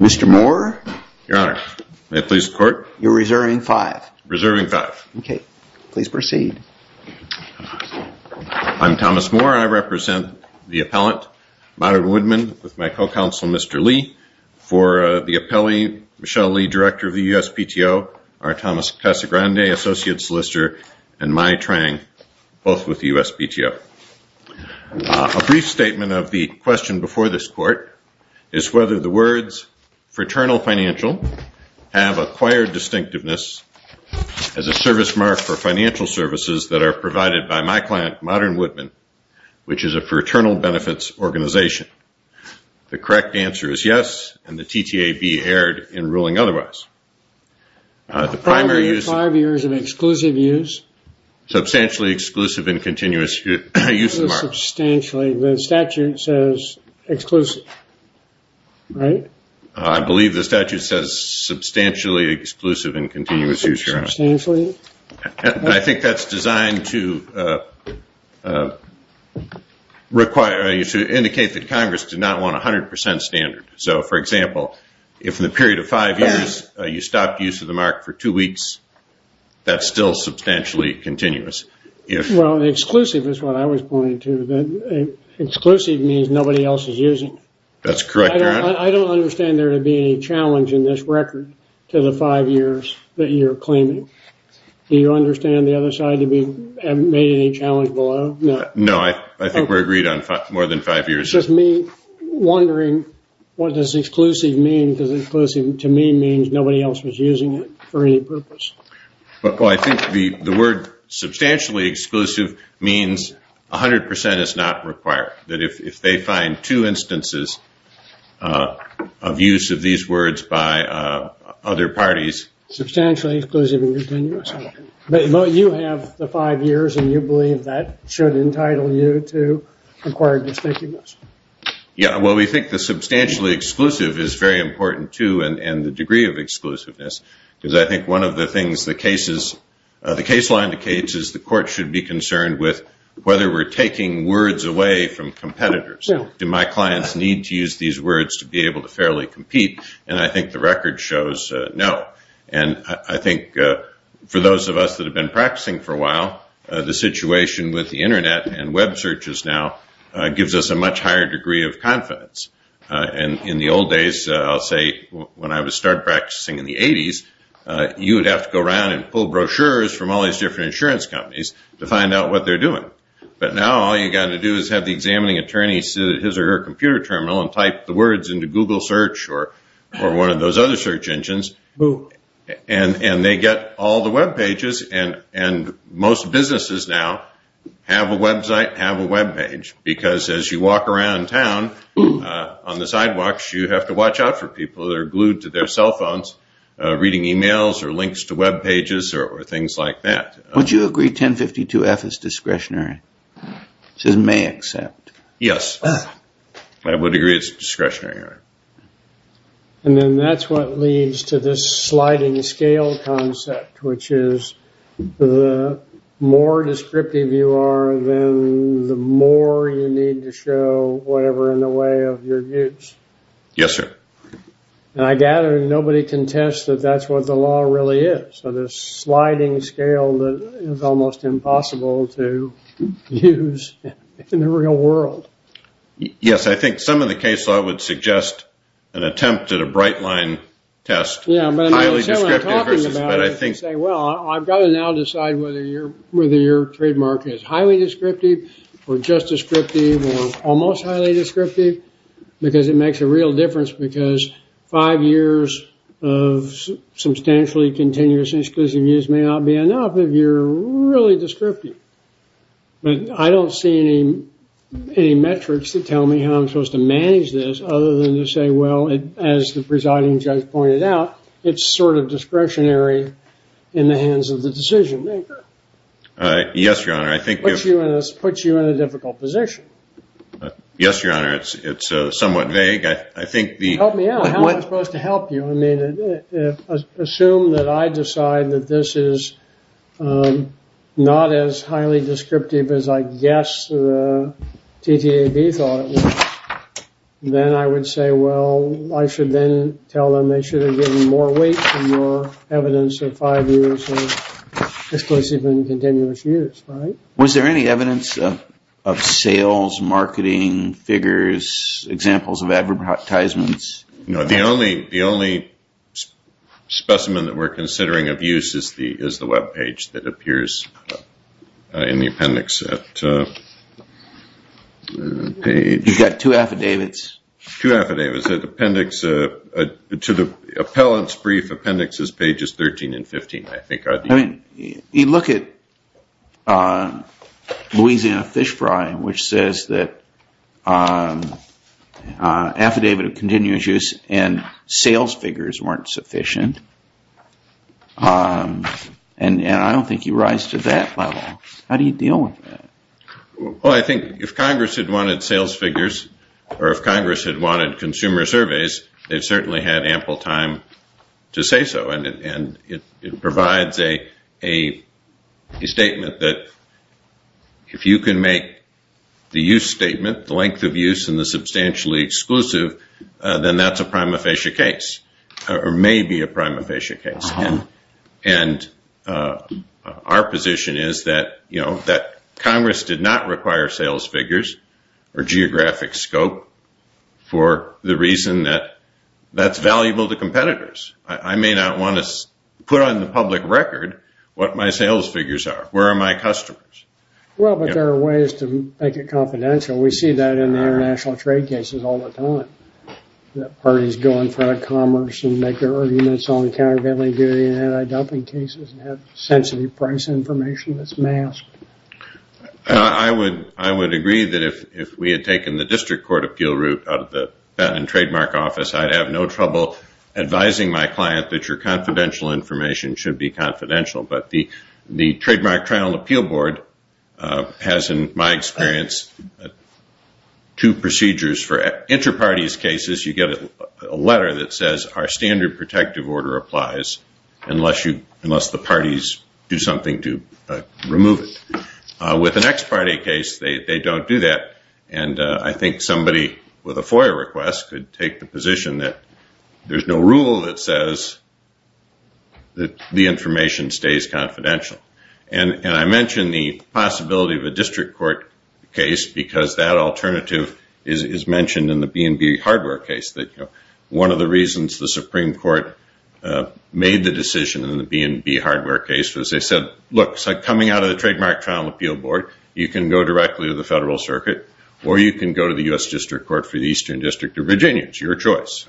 Mr. Moore, I represent the appellant, Modern Woodman, with my co-counsel Mr. Lee. For the appellee, Michelle Lee, Director of the USPTO, our Thomas Casagrande, Associate Solicitor, and Mai Trang, both with the USPTO. A brief statement of the question before this court is whether the words fraternal financial have acquired distinctiveness as a service mark for financial services that are provided by my client, Modern Woodman, which is a fraternal benefits organization. The correct answer is yes, and the TTAB erred in ruling otherwise. The primary five years of exclusive use, substantially exclusive and continuous use of the mark. Substantially, the statute says exclusive, right? I believe the statute says substantially exclusive and continuous use. Substantially? I think that's designed to require, to indicate that Congress did not want a 100% standard. So, for example, if in the period of five years you stopped use of the mark for two weeks, that's still substantially continuous. Well, exclusive is what I was pointing to. Exclusive means nobody else is using. That's correct, Your Honor. I don't understand there to be any challenge in this record to the five years that you're claiming. Do you understand the other side to be made any challenge below? No, I think we're agreed on more than five years. It's just me wondering what does exclusive mean? Because exclusive to me means nobody else was using it for any purpose. Well, I think the word substantially exclusive means 100% is not required. That if they find two instances of use of these words by other parties. Substantially exclusive and continuous. But you have the five years and you believe that should entitle you to require distinctiveness. Yeah. Well, we think the substantially exclusive is very important, too, and the degree of exclusiveness. Because I think one of the things the case line indicates is the court should be concerned with whether we're taking words away from competitors. Do my clients need to use these words to be able to fairly compete? And I think the record shows no. And I think for those of us that have been practicing for a while, the situation with the Internet and web searches now gives us a much higher degree of confidence. And in the old days, I'll say when I started practicing in the 80s, you would have to go around and pull brochures from all these different insurance companies to find out what they're doing. But now all you've got to do is have the examining attorney sit at his or her computer and they get all the web pages. And most businesses now have a website, have a web page, because as you walk around town on the sidewalks, you have to watch out for people that are glued to their cell phones reading emails or links to web pages or things like that. Would you agree 1052-F is discretionary? It says may accept. Yes. I would agree it's discretionary. And then that's what leads to this sliding scale concept, which is the more descriptive you are, then the more you need to show whatever in the way of your views. Yes, sir. And I gather nobody can test that that's what the law really is. So this sliding scale is almost impossible to use in the real world. Yes, I think some of the case law would suggest an attempt at a bright line test. Yeah, but I'm not sure I'm talking about it. Well, I've got to now decide whether your trademark is highly descriptive or just descriptive or almost highly descriptive, because it makes a real difference. Because five years of substantially continuous and exclusive use may not be enough if you're really descriptive. But I don't see any metrics to tell me how I'm supposed to manage this other than to say, well, as the presiding judge pointed out, it's sort of discretionary in the hands of the decision maker. Yes, Your Honor. It puts you in a difficult position. Yes, Your Honor. It's somewhat vague. Help me out. How am I supposed to help you? Assume that I decide that this is not as highly descriptive as I guess the TTAB thought, then I would say, well, I should then tell them they should have given more weight and more evidence of five years of exclusive and continuous use, right? Was there any evidence of sales, marketing figures, examples of advertisements? No. The only specimen that we're considering of use is the web page that appears in the appendix. You've got two affidavits? Two affidavits. To the appellant's brief, appendix is pages 13 and 15, I think. You look at Louisiana Fish Fry, which says that affidavit of continuous use and sales figures weren't sufficient, and I don't think you rise to that level. How do you deal with that? Well, I think if Congress had wanted sales figures or if Congress had wanted consumer surveys, they've certainly had ample time to say so, and it provides a statement that if you can make the use statement, the length of use and the substantially exclusive, then that's a prima facie case or may be a prima facie case, and our position is that Congress did not require sales figures or geographic scope for the reason that that's valuable to competitors. I may not want to put on the public record what my sales figures are. Where are my customers? Well, but there are ways to make it confidential. We see that in the international trade cases all the time, that parties go in front of commerce and make their arguments on countervailing duty and anti-dumping cases and have sensitive price information that's masked. I would agree that if we had taken the district court appeal route out of the patent and trademark office, I'd have no trouble advising my client that your confidential information should be confidential, but the Trademark Trial and Appeal Board has, in my experience, two procedures for inter-parties cases. You get a letter that says our standard protective order applies unless the parties do something to remove it. With an ex-party case, they don't do that, and I think somebody with a FOIA request could take the position that there's no rule that says that the information stays confidential, and I mention the possibility of a district court case because that alternative is mentioned in the B&B hardware case. One of the reasons the Supreme Court made the decision in the B&B hardware case was they said, look, coming out of the Trademark Trial and Appeal Board, you can go directly to the Federal Circuit or you can go to the U.S. District Court for the Eastern District of Virginia. It's your choice.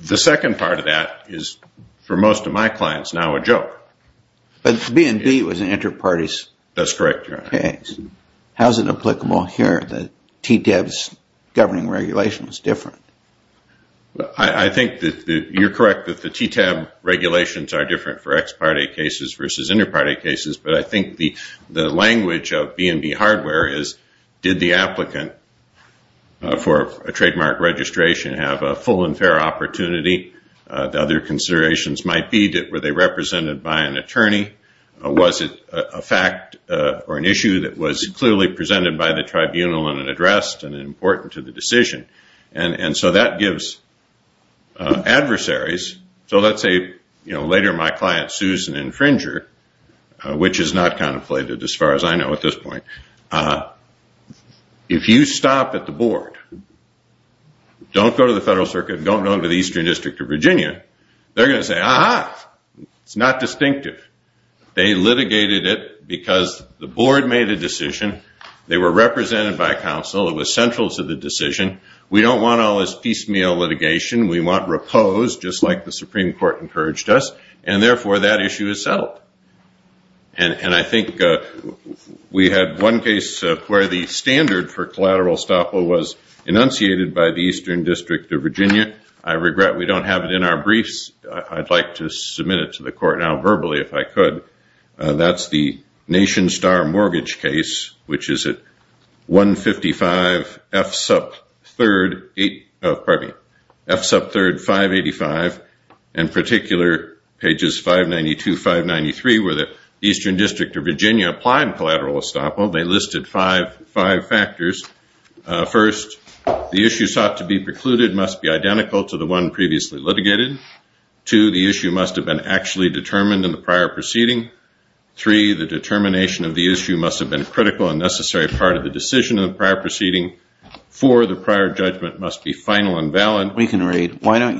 The second part of that is, for most of my clients, now a joke. But B&B was an inter-parties case. That's correct, Your Honor. How is it applicable here that TTAB's governing regulation is different? I think that you're correct that the TTAB regulations are different for ex-party cases versus inter-party cases, but I think the language of B&B hardware is, did the applicant for a trademark registration have a full and fair opportunity? The other considerations might be, were they represented by an attorney? Was it a fact or an issue that was clearly presented by the tribunal and addressed and important to the decision? And so that gives adversaries. So let's say later my client sues an infringer, which is not contemplated as far as I know at this point. If you stop at the board, don't go to the Federal Circuit, don't go to the Eastern District of Virginia, they're going to say, ah-ha, it's not distinctive. They litigated it because the board made a decision. They were represented by counsel. It was central to the decision. We don't want all this piecemeal litigation. We want repose, just like the Supreme Court encouraged us, and therefore that issue is settled. And I think we had one case where the standard for collateral estoppel was enunciated by the Eastern District of Virginia. I regret we don't have it in our briefs. I'd like to submit it to the court now verbally if I could. That's the Nation Star Mortgage case, which is at 155 F-sub-3, 8, pardon me, F-sub-3, 585. In particular, pages 592, 593, where the Eastern District of Virginia applied collateral estoppel. They listed five factors. First, the issue sought to be precluded must be identical to the one previously litigated. Two, the issue must have been actually determined in the prior proceeding. Three, the determination of the issue must have been a critical and necessary part of the decision in the prior proceeding. Four, the prior judgment must be final and valid. We can read. Why don't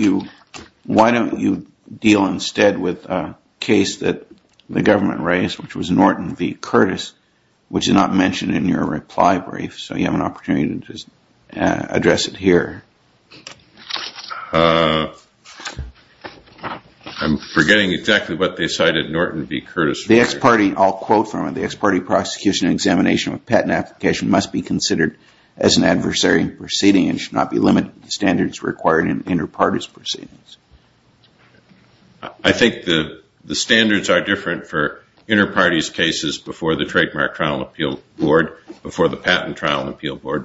you deal instead with a case that the government raised, which was Norton v. You have an opportunity to address it here. I'm forgetting exactly what they cited Norton v. Curtis. The ex-party, I'll quote from it, the ex-party prosecution examination of patent application must be considered as an adversary in proceeding and should not be limited to standards required in inter-parties proceedings. I think the standards are different for inter-parties cases before the Trademark Trial and Appeal Board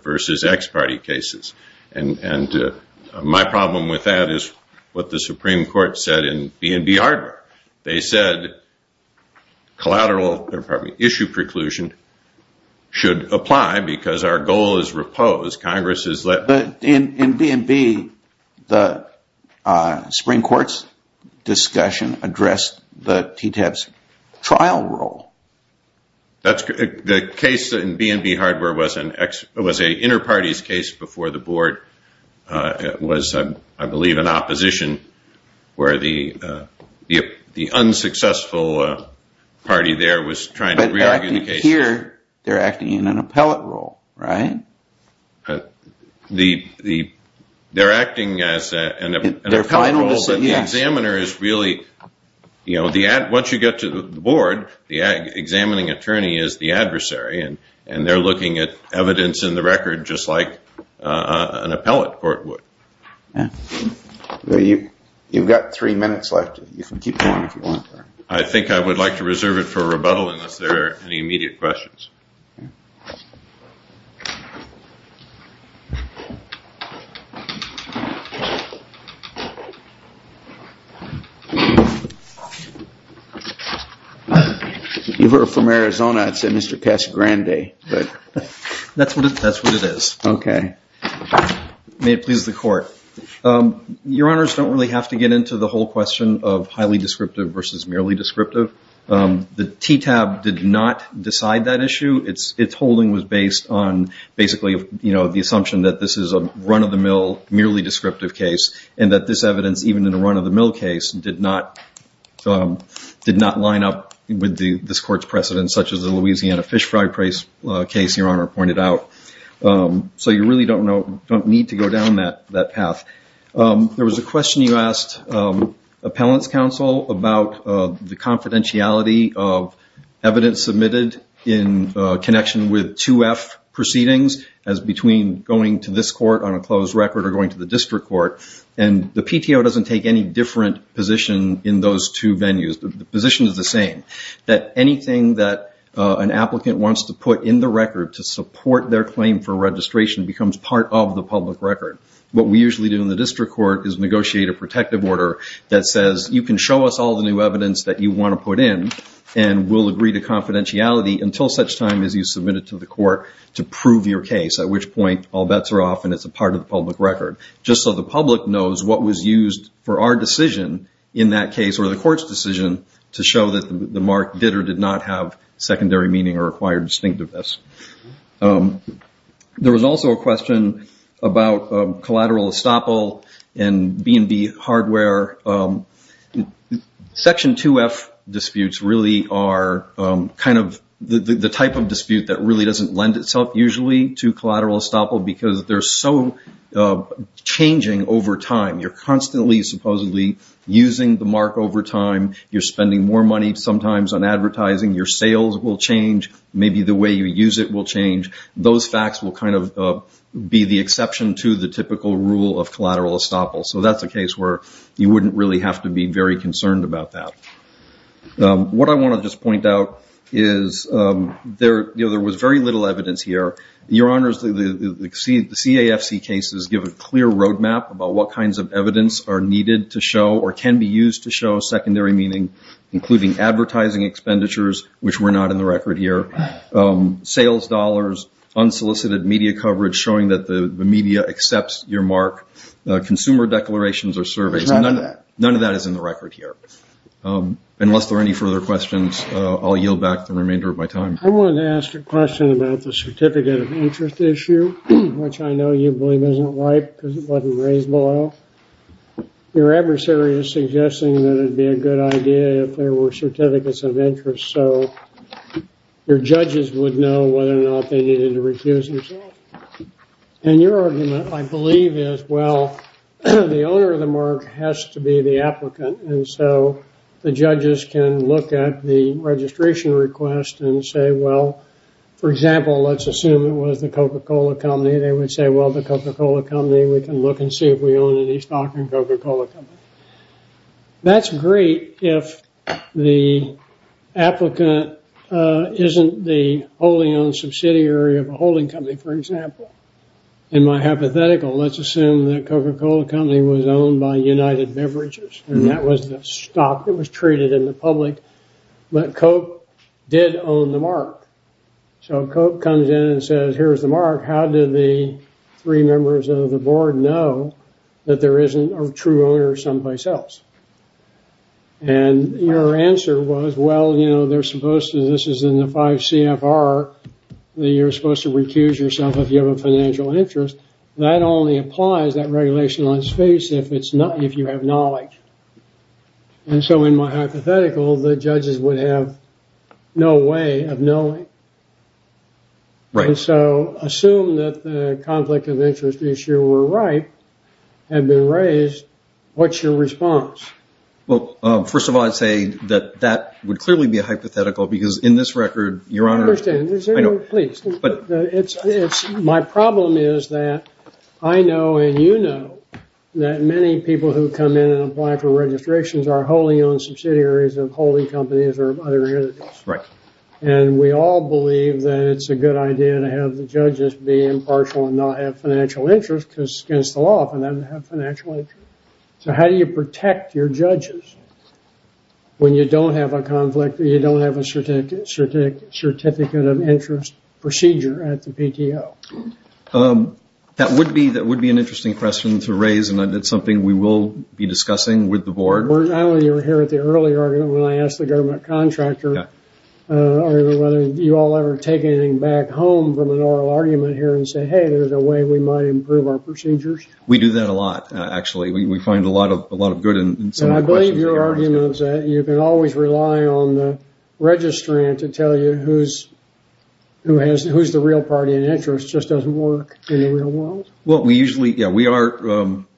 versus ex-party cases. And my problem with that is what the Supreme Court said in B&B Hardware. They said collateral issue preclusion should apply because our goal is repose. Congress has let... But in B&B, the Supreme Court's discussion addressed the TTAB's trial role. That's correct. The case in B&B Hardware was an inter-parties case before the board. It was, I believe, an opposition where the unsuccessful party there was trying to re-argue the case. But here, they're acting in an appellate role, right? They're acting as an appellate role, but the examiner is really... The examining attorney is the adversary, and they're looking at evidence in the record just like an appellate court would. You've got three minutes left. You can keep going if you want. I think I would like to reserve it for rebuttal unless there are any immediate questions. If you were from Arizona, I'd say Mr. Casagrande. That's what it is. May it please the court. Your Honors, I don't really have to get into the whole question of highly descriptive versus merely descriptive. The TTAB did not decide that issue. Its holding was based on basically the assumption that this is a run-of-the-mill, merely descriptive case, and that this evidence, even in a run-of-the-mill case, did not line up with this court's precedent, such as the Louisiana fish fry case Your Honor pointed out. You really don't need to go down that path. There was a question you asked appellant's counsel about the confidentiality of evidence submitted in connection with 2F proceedings as between going to this court on a closed record or going to the district court. The PTO doesn't take any different position in those two venues. The position is the same. That anything that an applicant wants to put in the record to support their claim for registration becomes part of the public record. What we usually do in the district court is negotiate a protective order that says you can show us all the new evidence that you want to put in and we'll agree to confidentiality until such time as you submit it to the court to prove your case, at which point all bets are off and it's a part of the public record. Just so the public knows what was used for our decision in that case, or the court's decision, to show that the mark did or did not have secondary meaning or required distinctiveness. There was also a question about collateral estoppel and B&B hardware. Section 2F disputes really are kind of the type of dispute that really doesn't lend itself usually to collateral estoppel because they're so changing over time. You're constantly supposedly using the mark over time. You're spending more money sometimes on advertising. Your sales will change. Maybe the way you use it will change. Those facts will kind of be the exception to the typical rule of collateral estoppel, so that's a case where you wouldn't really have to be very concerned about that. What I want to just point out is there was very little evidence here. Your Honors, the CAFC cases give a clear roadmap about what kinds of evidence are needed to show or can be used to show secondary meaning, including advertising expenditures, which were not in the record here, sales dollars, unsolicited media coverage showing that the media accepts your mark, consumer declarations or surveys. There's none of that. None of that is in the record here. Unless there are any further questions, I'll yield back the remainder of my time. I wanted to ask a question about the certificate of interest issue, which I know you believe isn't right because it wasn't raised below. Your adversary is suggesting that it would be a good idea if there were certificates of interest so your judges would know whether or not they needed to recuse themselves. And your argument, I believe, is, well, the owner of the mark has to be the applicant, and so the judges can look at the registration request and say, well, for example, let's assume it was the Coca-Cola company. They would say, well, the Coca-Cola company, we can look and see if we own any stock in Coca-Cola. That's great if the applicant isn't the wholly owned subsidiary of a holding company, for example. In my hypothetical, let's assume that Coca-Cola Company was owned by United Beverages, and that was the stock that was treated in the public. But Coke did own the mark. So Coke comes in and says, here's the mark. How did the three members of the board know that there isn't a true owner someplace else? And your answer was, well, you know, they're supposed to, this is in the 5 CFR, that you're supposed to recuse yourself if you have a financial interest. That only applies, that regulation on space, if you have knowledge. And so in my hypothetical, the judges would have no way of knowing. And so assume that the conflict of interest issue were right, had been raised, what's your response? Well, first of all, I'd say that that would clearly be a hypothetical, because in this record, Your Honor, My problem is that I know and you know that many people who come in and apply for registrations are wholly owned subsidiaries of holding companies or other entities. And we all believe that it's a good idea to have the judges be impartial and not have financial interest because it's against the law for them to have financial interest. So how do you protect your judges when you don't have a conflict, or you don't have a certificate of interest procedure at the PTO? That would be an interesting question to raise, and it's something we will be discussing with the board. I know you were here at the earlier argument when I asked the government contractor whether you all ever take anything back home from an oral argument here and say, We do that a lot, actually. We find a lot of good in some questions. And I believe your argument is that you can always rely on the registrant to tell you who's the real party in interest. It just doesn't work in the real world. Well,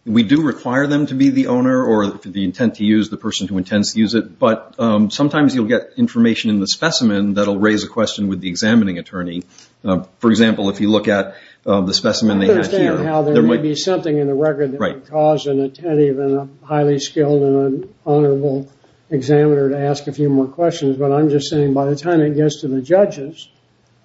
we do require them to be the owner or the person who intends to use it, but sometimes you'll get information in the specimen that will raise a question with the examining attorney. For example, if you look at the specimen they have here. I understand how there may be something in the record that would cause an attendee, even a highly skilled and honorable examiner, to ask a few more questions, but I'm just saying by the time it gets to the judges,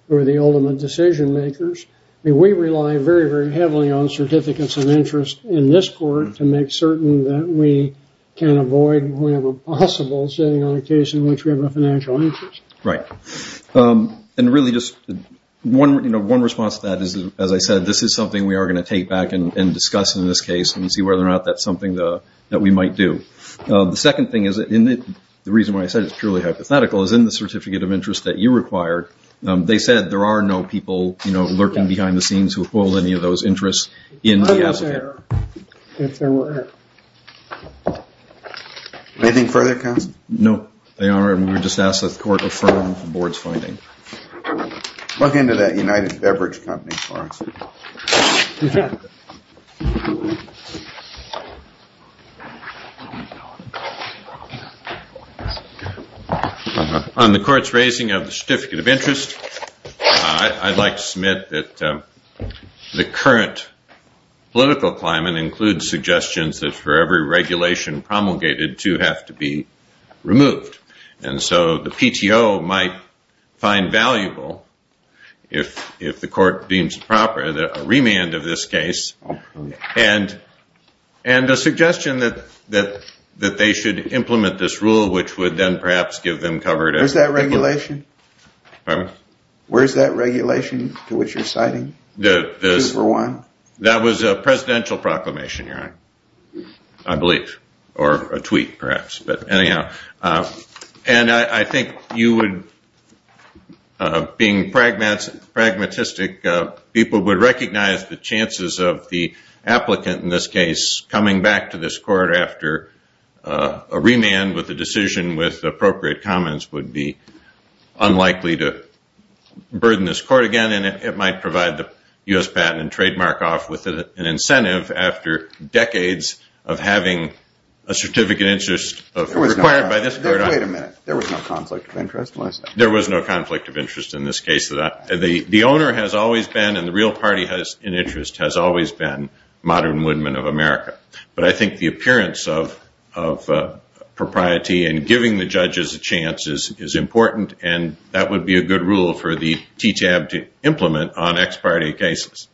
who are the ultimate decision makers, we rely very, very heavily on certificates of interest in this court to make certain that we can avoid, whenever possible, sitting on a case in which we have a financial interest. Right. And really, just one response to that is, as I said, this is something we are going to take back and discuss in this case and see whether or not that's something that we might do. The second thing is, and the reason why I said it's purely hypothetical, is in the certificate of interest that you required, they said there are no people lurking behind the scenes who hold any of those interests in the associate. Anything further, counsel? No, they are, and we were just asked that the court refer them to the board's finding. Plug into that United Beverage Company, Clarkson. On the court's raising of the certificate of interest, I'd like to submit that the current political climate includes suggestions that for every regulation promulgated, two have to be removed. And so the PTO might find valuable, if the court deems proper, a remand of this case and a suggestion that they should implement this rule, which would then perhaps give them cover to- Where's that regulation? Pardon? Where's that regulation to which you're citing? The- Two for one? That was a presidential proclamation, you're right. I believe, or a tweet perhaps, but anyhow. And I think you would, being pragmatistic, people would recognize the chances of the applicant in this case coming back to this court after a remand with a decision with appropriate comments would be unlikely to burden this court again, and it might provide the U.S. patent and trademark off with an incentive after decades of having a certificate of interest required by this court. Wait a minute. There was no conflict of interest? There was no conflict of interest in this case. The owner has always been, and the real party in interest has always been, Modern Woodman of America. But I think the appearance of propriety and giving the judges a chance is important, and that would be a good rule for the TTAB to implement on expiry cases.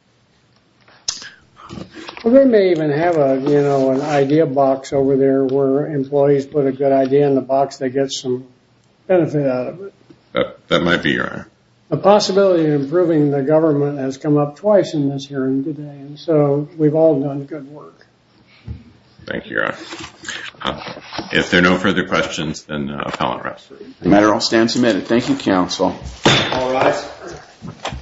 We may even have an idea box over there where employees put a good idea in the box, they get some benefit out of it. That might be right. The possibility of improving the government has come up twice in this hearing today, and so we've all done good work. Thank you, Your Honor. If there are no further questions, then appellant rest. The matter will stand submitted. Thank you, counsel. All rise.